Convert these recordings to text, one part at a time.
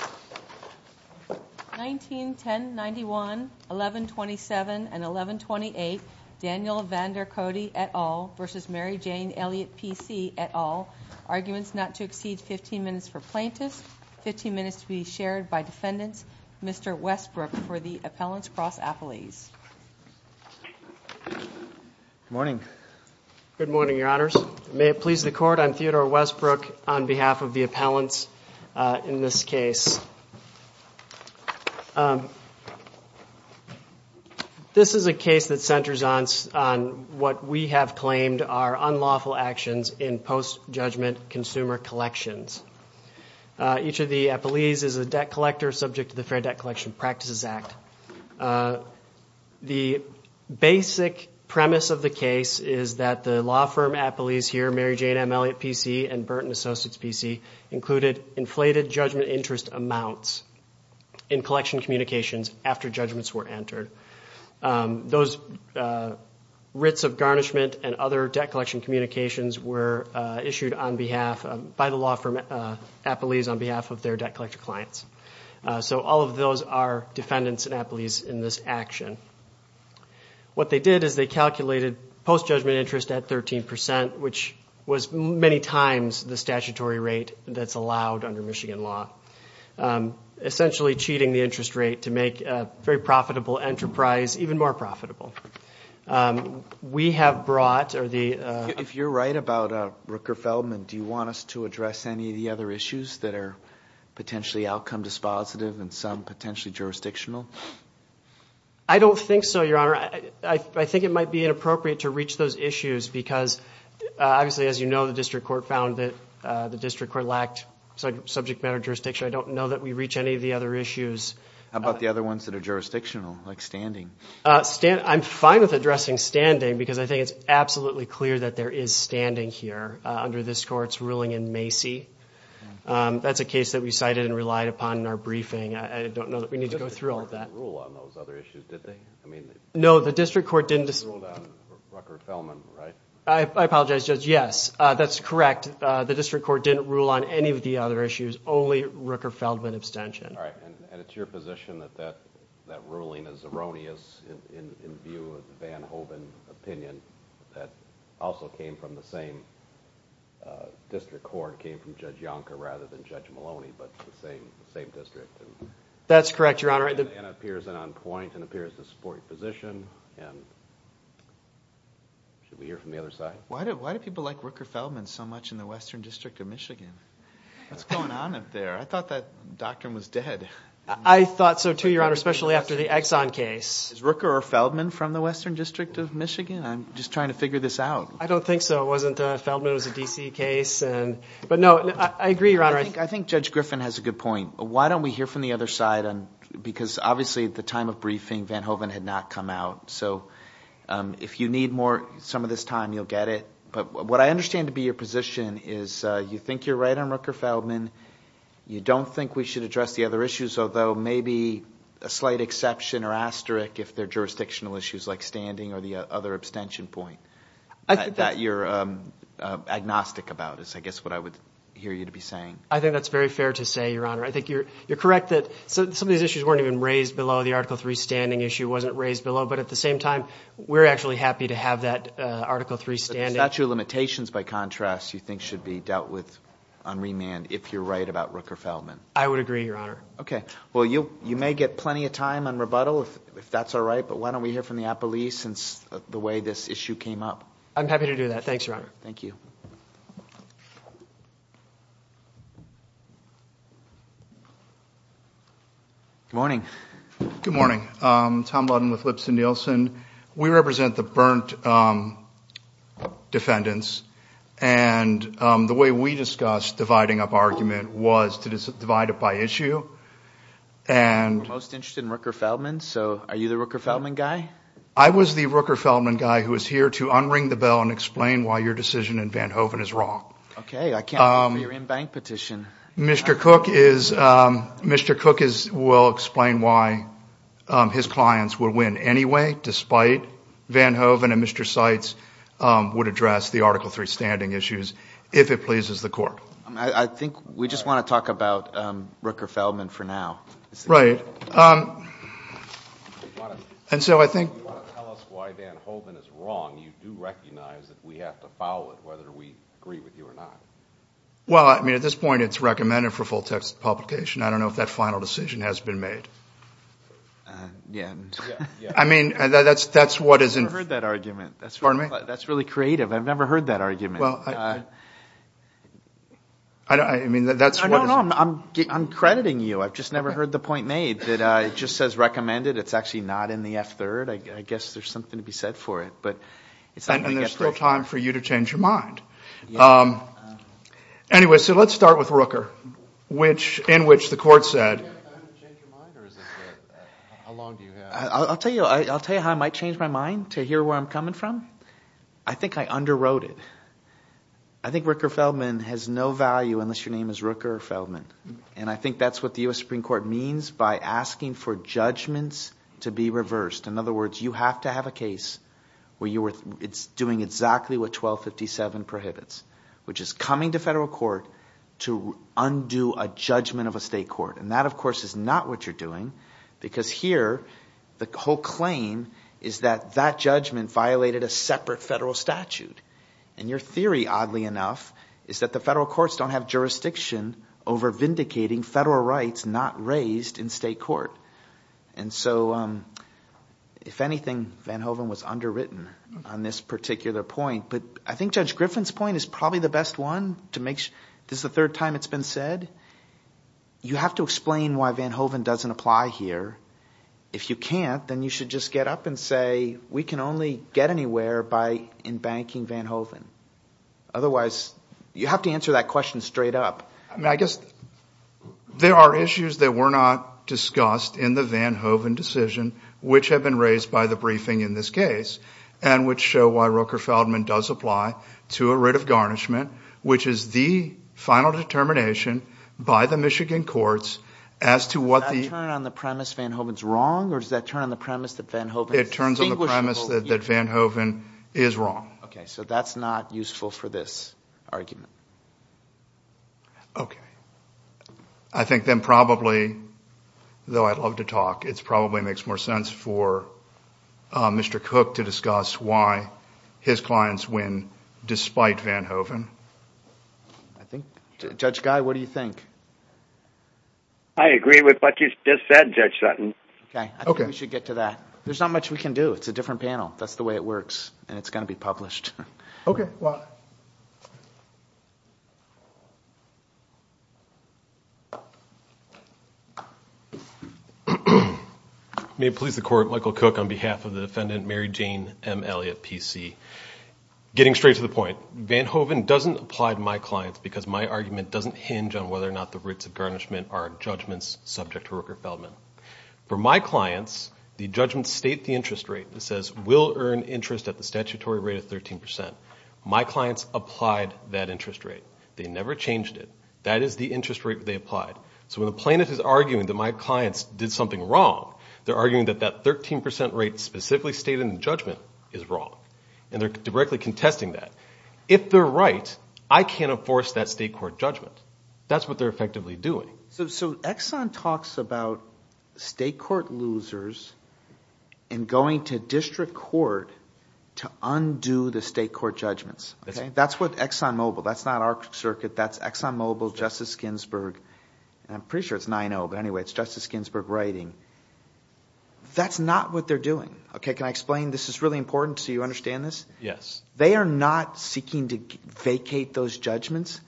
191091 1127 and 1128 Daniel VanderKodde et al. versus Mary Jane Elliott PC et al. Arguments not to exceed 15 minutes for plaintiffs, 15 minutes to be shared by defendants. Mr. Westbrook for the appellants cross-appellees. Good morning. Good morning, your honors. May it please the court, I'm Theodore Westbrook on this case. This is a case that centers on what we have claimed are unlawful actions in post-judgment consumer collections. Each of the appellees is a debt collector subject to the Fair Debt Collection Practices Act. The basic premise of the case is that the law firm appellees here, Mary Jane M Elliott PC and Burton Associates PC, included inflated judgment interest amounts in collection communications after judgments were entered. Those writs of garnishment and other debt collection communications were issued on behalf, by the law firm appellees, on behalf of their debt collector clients. So all of those are defendants and appellees in this action. What they did is they the statutory rate that's allowed under Michigan law. Essentially cheating the interest rate to make a very profitable enterprise even more profitable. We have brought or the... If you're right about Rooker Feldman, do you want us to address any of the other issues that are potentially outcome dispositive and some potentially jurisdictional? I don't think so, your honor. I think it might be inappropriate to reach those issues because obviously as you know the District Court found that the District Court lacked subject matter jurisdiction. I don't know that we reach any of the other issues. How about the other ones that are jurisdictional, like standing? I'm fine with addressing standing because I think it's absolutely clear that there is standing here under this court's ruling in Macy. That's a case that we cited and relied upon in our briefing. I don't know that we need to go through all of that. No, the District Court didn't rule on any of the other issues, only Rooker Feldman abstention. And it's your position that that ruling is erroneous in view of Van Hoven opinion that also came from the same District Court, came from Judge Yonker rather than Judge Maloney, but the same district. That's correct, your honor. It appears on point and appears to support your position and... Should we hear from the other side? Why do people like Rooker Feldman so much in the Western District of Michigan? What's going on up there? I thought that doctrine was dead. I thought so too, your honor, especially after the Exxon case. Is Rooker or Feldman from the Western District of Michigan? I'm just trying to figure this out. I don't think so. It wasn't Feldman, it was a DC case. But no, I agree, your honor. I think Judge Griffin has a good point. Why don't we hear from the other side? Because obviously at the time of briefing Van Hoven had not come out. So if you need more some of this time, you'll get it. But what I understand to be your position is you think you're right on Rooker Feldman. You don't think we should address the other issues, although maybe a slight exception or asterisk if they're jurisdictional issues like standing or the other abstention point that you're agnostic about is I guess what I would hear you to be saying. I think that's very fair to say, your honor. I think you're correct that some of these issues weren't even raised below the Article 3 standing issue wasn't raised below, but at the same time we're actually happy to have that Article 3 standing. Statue of limitations by contrast you think should be dealt with on remand if you're right about Rooker Feldman. I would agree, your honor. Okay, well you may get plenty of time on rebuttal if that's all right, but why don't we hear from the appellee since the way this issue came up. I'm happy to do that. Thanks, your honor. Thank you. Good morning. Good morning. Tom Lutton with Lipson Nielsen. We represent the burnt defendants and the way we discussed dividing up argument was to divide it by issue. And most interested in Rooker Feldman, so are you the Rooker Feldman guy? I was the Rooker Feldman guy who is here to unring the bell and say Van Hoven is wrong. Okay, I can't believe your in-bank petition. Mr. Cook will explain why his clients will win anyway, despite Van Hoven and Mr. Seitz would address the Article 3 standing issues if it pleases the court. I think we just want to talk about Rooker Feldman for now. Right. And so I think you do recognize that we have to follow it whether we agree with you or not. Well, I mean at this point it's recommended for full text publication. I don't know if that final decision has been made. Yeah. I mean that's what is in... I've never heard that argument. Pardon me? That's really creative. I've never heard that argument. Well, I mean that's... I'm crediting you. I've just never heard the point made that it just says recommended. It's actually not in the F-3rd. I guess there's something to change your mind. Anyway, so let's start with Rooker which in which the court said... I'll tell you how I might change my mind to hear where I'm coming from. I think I underwrote it. I think Rooker Feldman has no value unless your name is Rooker Feldman and I think that's what the US Supreme Court means by asking for judgments to be reversed. In other words, you have to have a case where you were doing exactly what 1257 prohibits, which is coming to federal court to undo a judgment of a state court. And that of course is not what you're doing because here the whole claim is that that judgment violated a separate federal statute. And your theory, oddly enough, is that the federal courts don't have jurisdiction over vindicating federal rights not raised in state court. And so if anything, Vanhoeven was underwritten on this particular point. But I think Judge Griffin's point is probably the best one to make sure. This is the third time it's been said. You have to explain why Vanhoeven doesn't apply here. If you can't, then you should just get up and say we can only get anywhere by embanking Vanhoeven. Otherwise, you have to answer that question straight up. I guess there are issues that were not discussed in the Vanhoeven decision which have been raised by the briefing in this case and which show why Roker Feldman does apply to a writ of garnishment, which is the final determination by the Michigan courts as to what the... Does that turn on the premise Vanhoeven's wrong or does that turn on the premise that Vanhoeven is distinguishable? It turns on the premise that Vanhoeven is wrong. Okay, so that's not useful for this argument. Okay. I think then probably, though I'd love to talk, it probably makes more sense for Mr. Cook to discuss why his clients win despite Vanhoeven. I think... Judge Guy, what do you think? I agree with what you just said, Judge Sutton. Okay, I think we should get to that. There's not much we can do. It's a different panel. That's the way it works and it's going to be published. May it please the court, Michael Cook on behalf of the defendant Mary Jane M. Elliott, PC. Getting straight to the point, Vanhoeven doesn't apply to my clients because my argument doesn't hinge on whether or not the writs of garnishment are judgments subject to Roker Feldman. For my clients, the judgments state the interest rate that says will earn interest at the statutory rate of 13%. My clients applied that interest rate. They never changed it. That is the interest rate they applied. So when the plaintiff is arguing that my clients did something wrong, they're arguing that that 13% rate specifically stated in the judgment is wrong. And they're directly contesting that. If they're right, I can't enforce that state court judgment. That's what they're effectively doing. So Exxon talks about state court losers and going to district court to undo the state court judgments. That's what Exxon Mobil, that's not our circuit, that's Exxon Mobil, Justice Ginsburg. I'm pretty sure it's 9-0, but anyway, it's Justice Ginsburg writing. That's not what they're doing. Okay, can I explain? This is really important so you understand this. Yes. They are not seeking to vacate those judgments.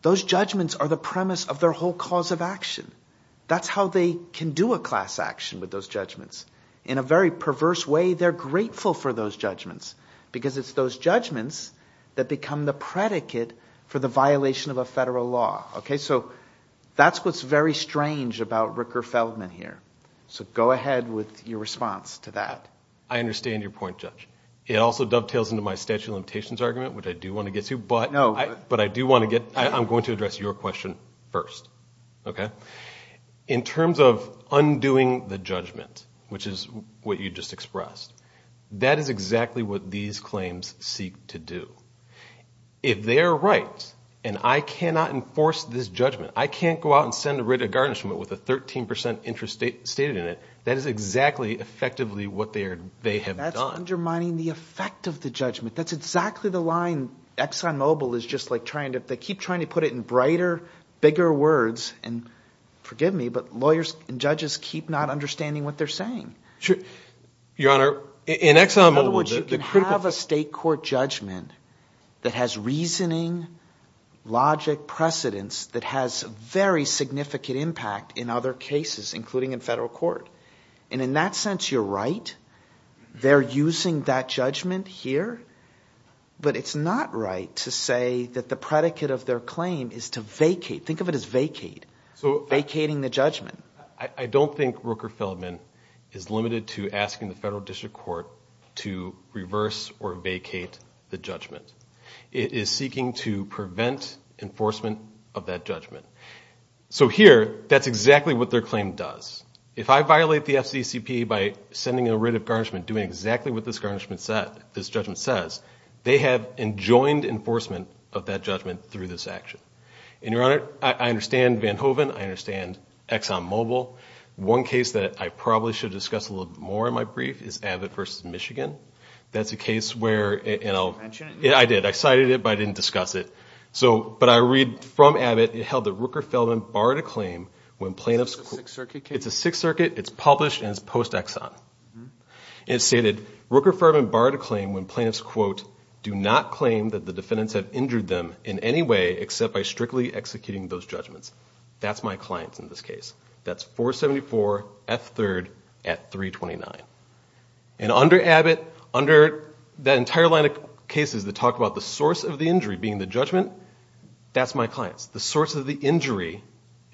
Those judgments are the premise of their whole cause of action. That's how they can do a class action with those judgments. In a very perverse way, they're grateful for those judgments because it's those judgments that become the predicate for the violation of a federal law. Okay, so that's what's very strange about Ricker Feldman here. So go ahead with your response to that. I understand your point, Judge. It also dovetails into my statute of limitations argument, which I do want to get to, but I do want to get, I'm going to address your question first, okay? In terms of undoing the judgment, which is what you just expressed, that is exactly what these claims seek to do. If they are right and I cannot enforce this judgment, I can't go out and send a writ of garnishment with a 13% interest stated in it, that is exactly effectively what they have done. That's undermining the effect of the judgment. That's exactly the line ExxonMobil is just like trying to, they keep trying to put it in brighter, bigger words, and forgive me, but lawyers and judges keep not understanding what they're saying. Your Honor, in ExxonMobil, the critical- In other words, you can have a state court judgment that has reasoning, logic, precedence that has very significant impact in other cases, including in federal court. And in that sense, you're right. They're using that judgment here, but it's not right to say that the predicate of their claim is to vacate. Think of it as vacate, vacating the judgment. I don't think Rooker-Feldman is limited to asking the federal district court to reverse or vacate the judgment. It is seeking to prevent enforcement of that judgment. So here, that's exactly what their claim does. If I violate the FCCP by sending a writ of garnishment, doing exactly what this judgment says, they have enjoined enforcement of that judgment through this action. And Your Honor, I understand Vanhoeven. I understand ExxonMobil. One case that I probably should discuss a little bit more in my brief is Abbott versus Michigan. That's a case where- Did you mention it? Yeah, I did. I cited it, but I didn't discuss it. So, but I read from Abbott, it held that Rooker-Feldman borrowed a claim when plaintiffs- It's a Sixth Circuit case? It's a Sixth Circuit. It's published and it's post-Exxon. And it stated, Rooker-Feldman borrowed a claim when plaintiffs, quote, do not claim that the defendants have injured them in any way except by strictly executing those judgments. That's my clients in this case. That's 474 F3rd at 329. And under Abbott, under that entire line of cases that talk about the source of the injury being the judgment, that's my clients. The source of the injury,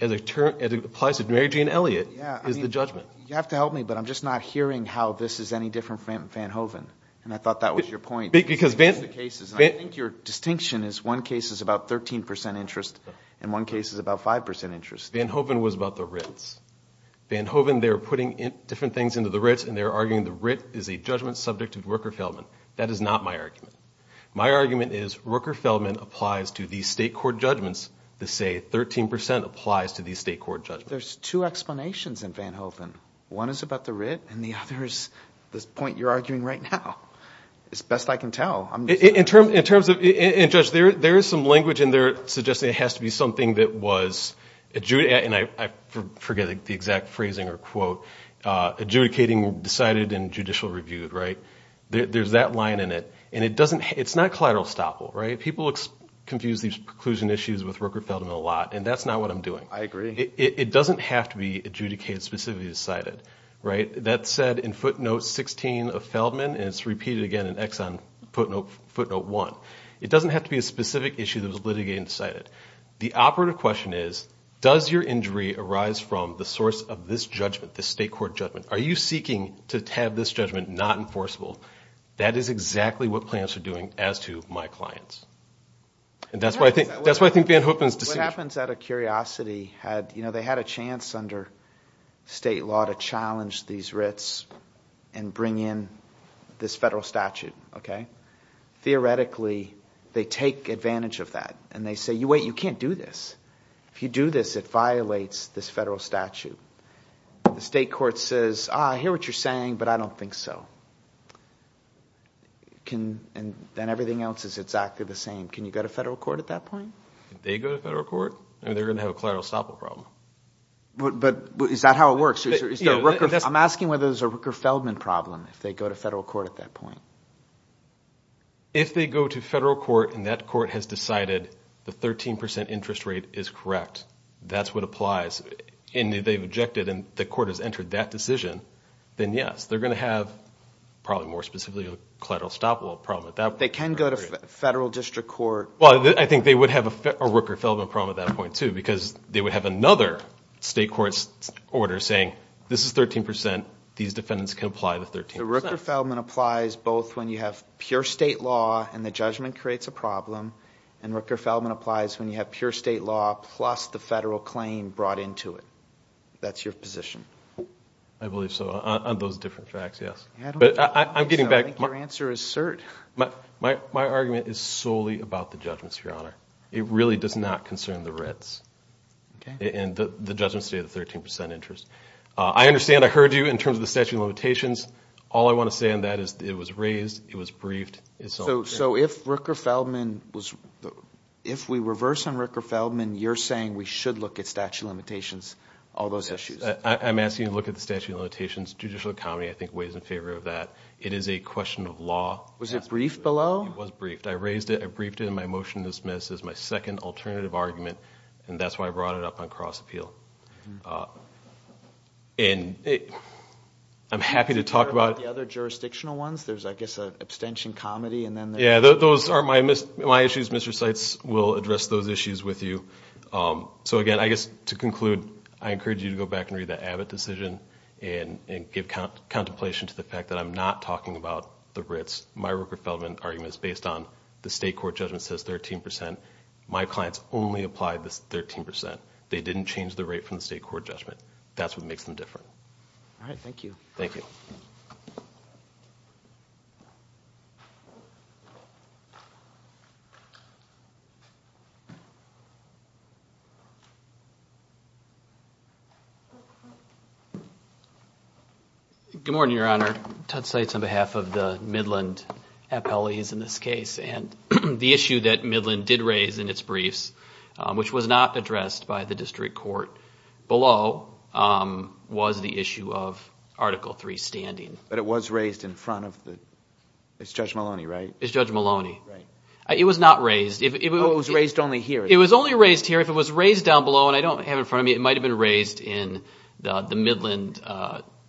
as it applies to Mary Jane Elliott, is the judgment. You have to help me, but I'm just not hearing how this is any different from Vanhoeven. And I thought that was your point. Because Vanhoeven- I think your distinction is one case is about 13% interest and one case is about 5% interest. Vanhoeven was about the writs. Vanhoeven, they were putting different things into the writs and they were arguing the writ is a judgment subject to Rooker-Feldman. That is not my argument. My argument is Rooker-Feldman applies to these state court judgments to say 13% applies to these state court judgments. There's two explanations in Vanhoeven. One is about the writ and the other is this point you're arguing right now. It's best I can tell. In terms of- And Judge, there is some language in there suggesting it has to be something that was- And I forget the exact phrasing or quote. Adjudicating decided and judicial reviewed, right? There's that line in it. It's not collateral estoppel, right? People confuse these preclusion issues with Rooker-Feldman a lot and that's not what I'm doing. I agree. It doesn't have to be adjudicated specifically decided, right? That said, in footnote 16 of Feldman, and it's repeated again in Exxon footnote 1, it doesn't have to be a specific issue that was litigated and decided. The operative question is, does your injury arise from the source of this judgment, this state court judgment? Are you seeking to have this judgment not enforceable? That is exactly what plans are doing as to my clients. And that's why I think Van Hoopen's decision- What happens out of curiosity had- They had a chance under state law to challenge these writs and bring in this federal statute, okay? Theoretically, they take advantage of that and they say, wait, you can't do this. If you do this, it violates this federal statute. The state court says, I hear what you're saying, but I don't think so. And then everything else is exactly the same. Can you go to federal court at that point? If they go to federal court, I mean, they're going to have a collateral estoppel problem. But is that how it works? I'm asking whether there's a Rooker-Feldman problem if they go to federal court at that point. If they go to federal court and that court has decided the 13% interest rate is correct, that's what applies. And they've objected and the court has entered that decision, then yes, they're going to have probably more specifically a collateral estoppel problem at that point. They can go to federal district court. Well, I think they would have a Rooker-Feldman problem at that point too, because they would have another state court order saying this is 13%, these defendants can apply the 13%. The Rooker-Feldman applies both when you have pure state law and the judgment creates a problem. And Rooker-Feldman applies when you have pure state law plus the federal claim brought into it. That's your position. I believe so, on those different facts, yes. But I'm getting back. I think your answer is cert. My argument is solely about the judgments, Your Honor. It really does not concern the writs. And the judgments say the 13% interest. I understand I heard you in terms of the statute of limitations. All I want to say on that is it was raised, it was briefed. So if Rooker-Feldman was, if we reverse on Rooker-Feldman, you're saying we should look at statute of limitations, all those issues? I'm asking you to look at the statute of limitations. Judicial accounting, I think, weighs in favor of that. It is a question of law. Was it briefed below? It was briefed. I raised it. I briefed it in my motion to dismiss as my second alternative argument. And that's why I brought it up on cross-appeal. And I'm happy to talk about it. The other jurisdictional ones, there's, I guess, an abstention, comedy, and then there's... Yeah, those are my issues. Mr. Seitz will address those issues with you. So again, I guess, to conclude, I encourage you to go back and read the Abbott decision and give contemplation to the fact that I'm not talking about the writs. My Rooker-Feldman argument is based on the state court judgment says 13%. My clients only applied this 13%. They didn't change the rate from the state court judgment. That's what makes them different. All right. Thank you. Thank you. Good morning, Your Honor. Todd Seitz on behalf of the Midland appellees in this case. And the issue that Midland did raise in its briefs, which was not addressed by the district court below, was the issue of Article III standing. But it was raised in front of the... It's Judge Maloney, right? It's Judge Maloney. Right. It was not raised. It was raised only here. It was only raised here. If it was raised down below, and I don't have it in front of me, it might have been raised in the Midland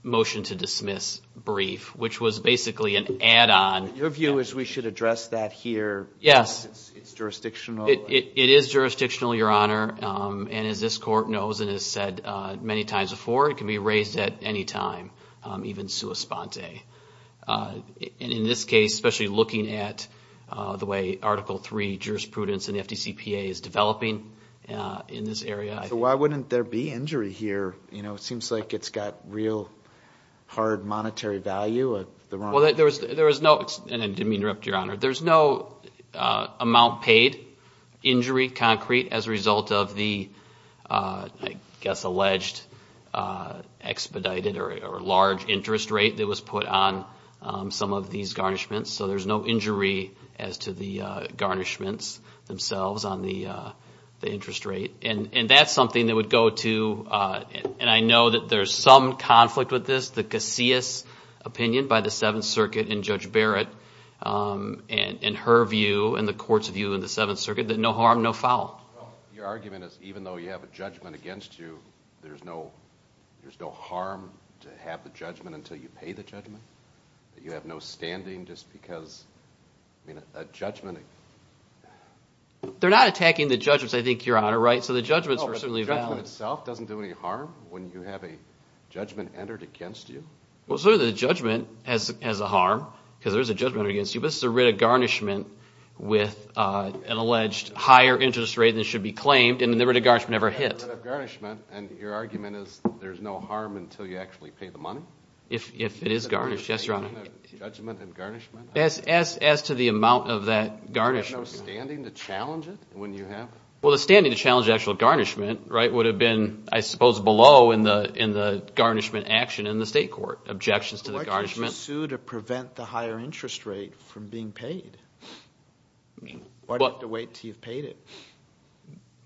motion to dismiss brief, which was basically an add-on. Your view is we should address that here. Yes. It's jurisdictional. It is jurisdictional, Your Honor. And as this court knows and has said many times before, it can be raised at any time, even sua sponte. And in this case, especially looking at the way Article III jurisprudence and FDCPA is developing in this area... So why wouldn't there be injury here? It seems like it's got real hard monetary value. Well, there was no... And I didn't mean to interrupt, Your Honor. There's no amount paid, injury concrete, as a result of the, I guess, alleged expedited or large interest rate that was put on some of these garnishments. So there's no injury as to the garnishments themselves on the interest rate. And that's something that would go to... And I know that there's some conflict with this, the Casillas opinion by the Seventh Circuit and Judge Barrett and her view and the court's view in the Seventh Circuit, that no harm, no foul. Your argument is even though you have a judgment against you, there's no harm to have the judgment until you pay the judgment? That you have no standing just because a judgment... They're not attacking the judgments, I think, Your Honor, right? So the judgments are certainly valid. The judgment itself doesn't do any harm when you have a judgment entered against you? Well, so the judgment has a harm because there's a judgment against you, but this is a writ of garnishment with an alleged higher interest rate than should be claimed and the writ of garnishment never hit. And your argument is there's no harm until you actually pay the money? If it is garnished, yes, Your Honor. Judgment and garnishment? As to the amount of that garnishment... You have no standing to challenge it when you have... Well, the standing to challenge actual garnishment would have been, I suppose, below in the garnishment action in the state court. Objections to the garnishment... Why can't you sue to prevent the higher interest rate from being paid? Why do you have to wait until you've paid it?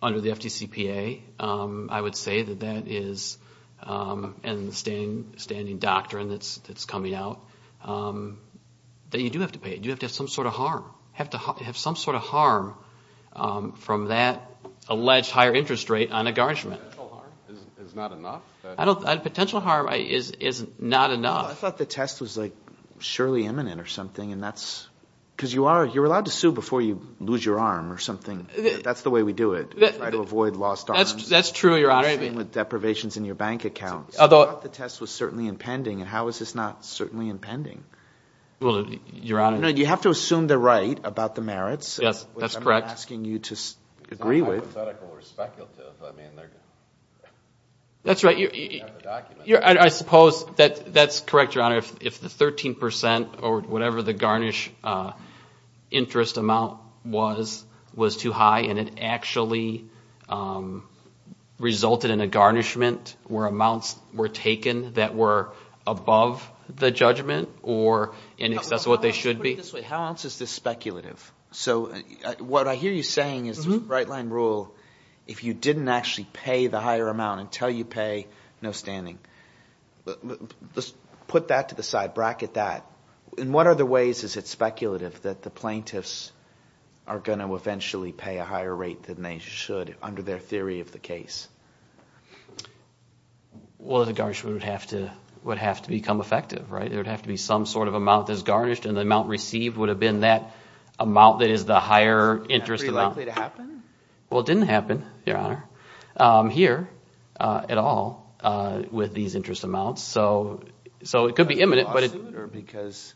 Under the FDCPA, I would say that that is, and the standing doctrine that's coming out, that you do have to pay it. You have to have some sort of harm. You have to have some sort of harm from that alleged higher interest rate on a garnishment. Potential harm is not enough? Potential harm is not enough. I thought the test was, like, surely imminent or something, and that's... Because you're allowed to sue before you lose your arm or something. That's the way we do it. We try to avoid lost arms. That's true, Your Honor. With deprivations in your bank accounts. Although... The test was certainly impending, and how is this not certainly impending? Well, Your Honor... You have to assume they're right about the merits. Yes, that's correct. Which I'm not asking you to agree with. It's not hypothetical or speculative. I mean, they're... That's right. I suppose that's correct, Your Honor. If the 13% or whatever the garnish interest amount was, was too high and it actually resulted in a garnishment where amounts were taken that were above the judgment or in excess of what they should be. How else is this speculative? So what I hear you saying is the right-line rule, if you didn't actually pay the higher amount until you pay, no standing. Put that to the side. Bracket that. In what other ways is it speculative that the plaintiffs are going to eventually pay a higher rate than they should under their theory of the case? Well, the garnishment would have to become effective, right? There would have to be some sort of amount that's garnished, and the amount received would have been that amount that is the higher interest amount. Is that likely to happen? Well, it didn't happen, Your Honor, here at all with these interest amounts. So it could be imminent, but... Because...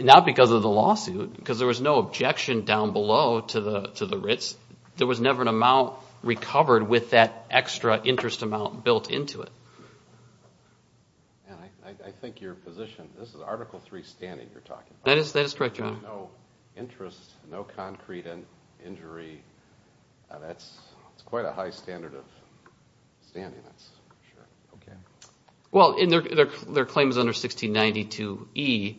Not because of the lawsuit, because there was no objection down below to the writs. There was never an amount recovered with that extra interest amount built into it. And I think your position, this is Article III standing you're talking about. That is correct, Your Honor. No interest, no concrete injury. That's quite a high standard of standing, that's for sure. Okay. Well, their claim is under 1692E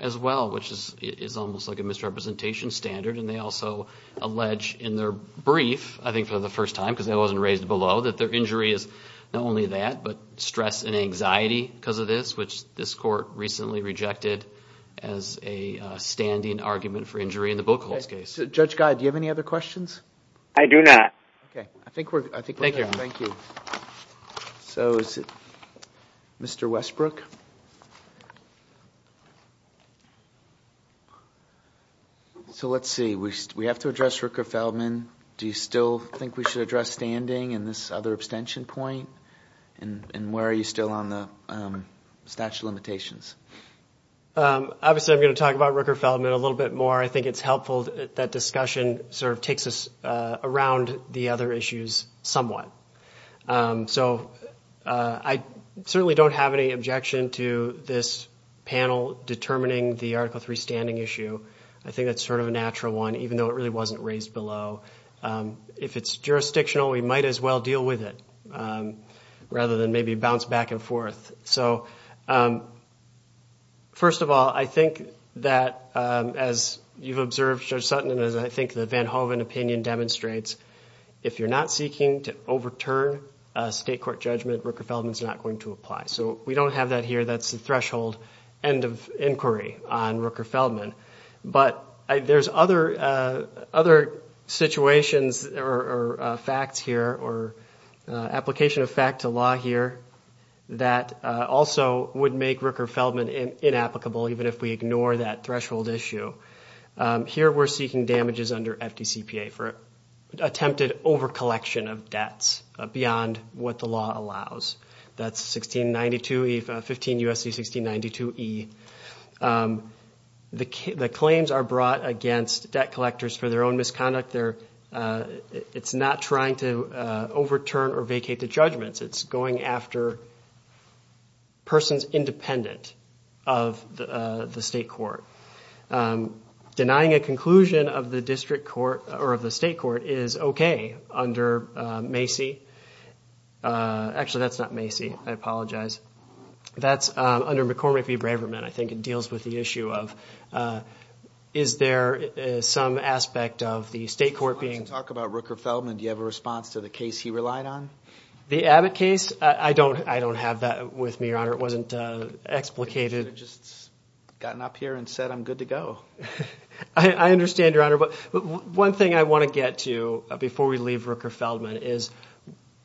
as well, which is almost like a misrepresentation standard. And they also allege in their brief, I think for the first time, because that wasn't raised below, that their injury is not only that, but stress and anxiety because of this, which this court recently rejected as a standing argument for injury in the Buchholz case. Judge Guy, do you have any other questions? I do not. Okay. I think we're done. Thank you. So is it Mr. Westbrook? So let's see, we have to address Rooker-Feldman. Do you still think we should address standing and this other abstention point? And where are you still on the statute of limitations? Obviously, I'm going to talk about Rooker-Feldman a little bit more. I think it's helpful that discussion sort of takes us around the other issues somewhat. So I certainly don't have any objection to this panel determining the Article III standing issue. I think that's sort of a natural one, even though it really wasn't raised below. If it's jurisdictional, we might as well deal with it rather than maybe bounce back and forth. So first of all, I think that as you've observed, Judge Sutton, and as I think the Van Hoven opinion demonstrates, if you're not seeking to overturn a state court judgment, Rooker-Feldman is not going to apply. So we don't have that here. That's the threshold end of inquiry on Rooker-Feldman. But there's other situations or facts here or application of fact to law here that also would make Rooker-Feldman inapplicable, even if we ignore that threshold issue. Here, we're seeking damages under FDCPA for attempted overcollection of debts beyond what the law allows. That's 1692E, 15 U.S.C. 1692E. The claims are brought against debt collectors for their own misconduct. It's not trying to overturn or vacate the judgments. It's going after persons independent of the state court. Denying a conclusion of the district court or of the state court is okay under Macy. Actually, that's not Macy. I apologize. That's under McCormick v. Braverman. I think it deals with the issue of is there some aspect of the state court being... Let's talk about Rooker-Feldman. Do you have a response to the case he relied on? The Abbott case? I don't have that with me, Your Honor. It wasn't explicated. Just gotten up here and said, I'm good to go. I understand, Your Honor. One thing I want to get to before we leave Rooker-Feldman is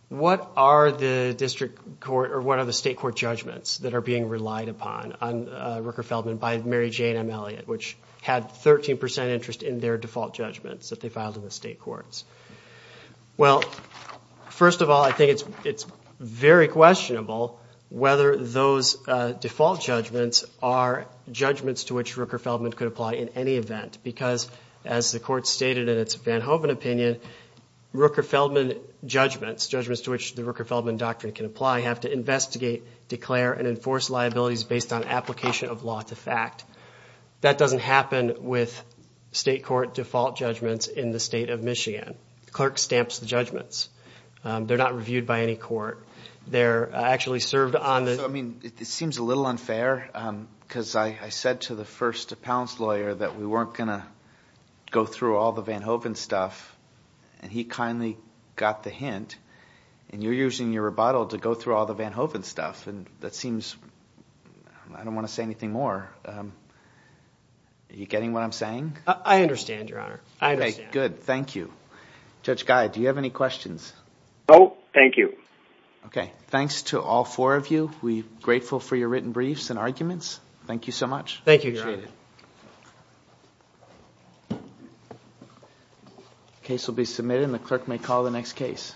what are the district court or what are the state court judgments that are being relied upon on Rooker-Feldman by Mary Jane M. Elliot, which had 13% interest in their default judgments that they filed in the state courts? Well, first of all, I think it's very questionable whether those default judgments are judgments to which Rooker-Feldman could apply in any event. Because as the court stated in its Van Hoven opinion, Rooker-Feldman judgments, judgments to which the Rooker-Feldman doctrine can apply, have to investigate, declare, and enforce liabilities based on application of law to fact. That doesn't happen with state court default judgments in the state of Michigan. The clerk stamps the judgments. They're not reviewed by any court. They're actually served on the- I mean, it seems a little unfair because I said to the first appellant's lawyer that we weren't going to go through all the Van Hoven stuff, and he kindly got the hint. And you're using your rebuttal to go through all the Van Hoven stuff. And that seems, I don't want to say anything more. Are you getting what I'm saying? I understand, Your Honor. I understand. Good. Thank you. Judge Guy, do you have any questions? No. Thank you. Okay. Thanks to all four of you. We're grateful for your written briefs and arguments. Thank you so much. Thank you, Your Honor. Appreciate it. Case will be submitted, and the clerk may call the next case.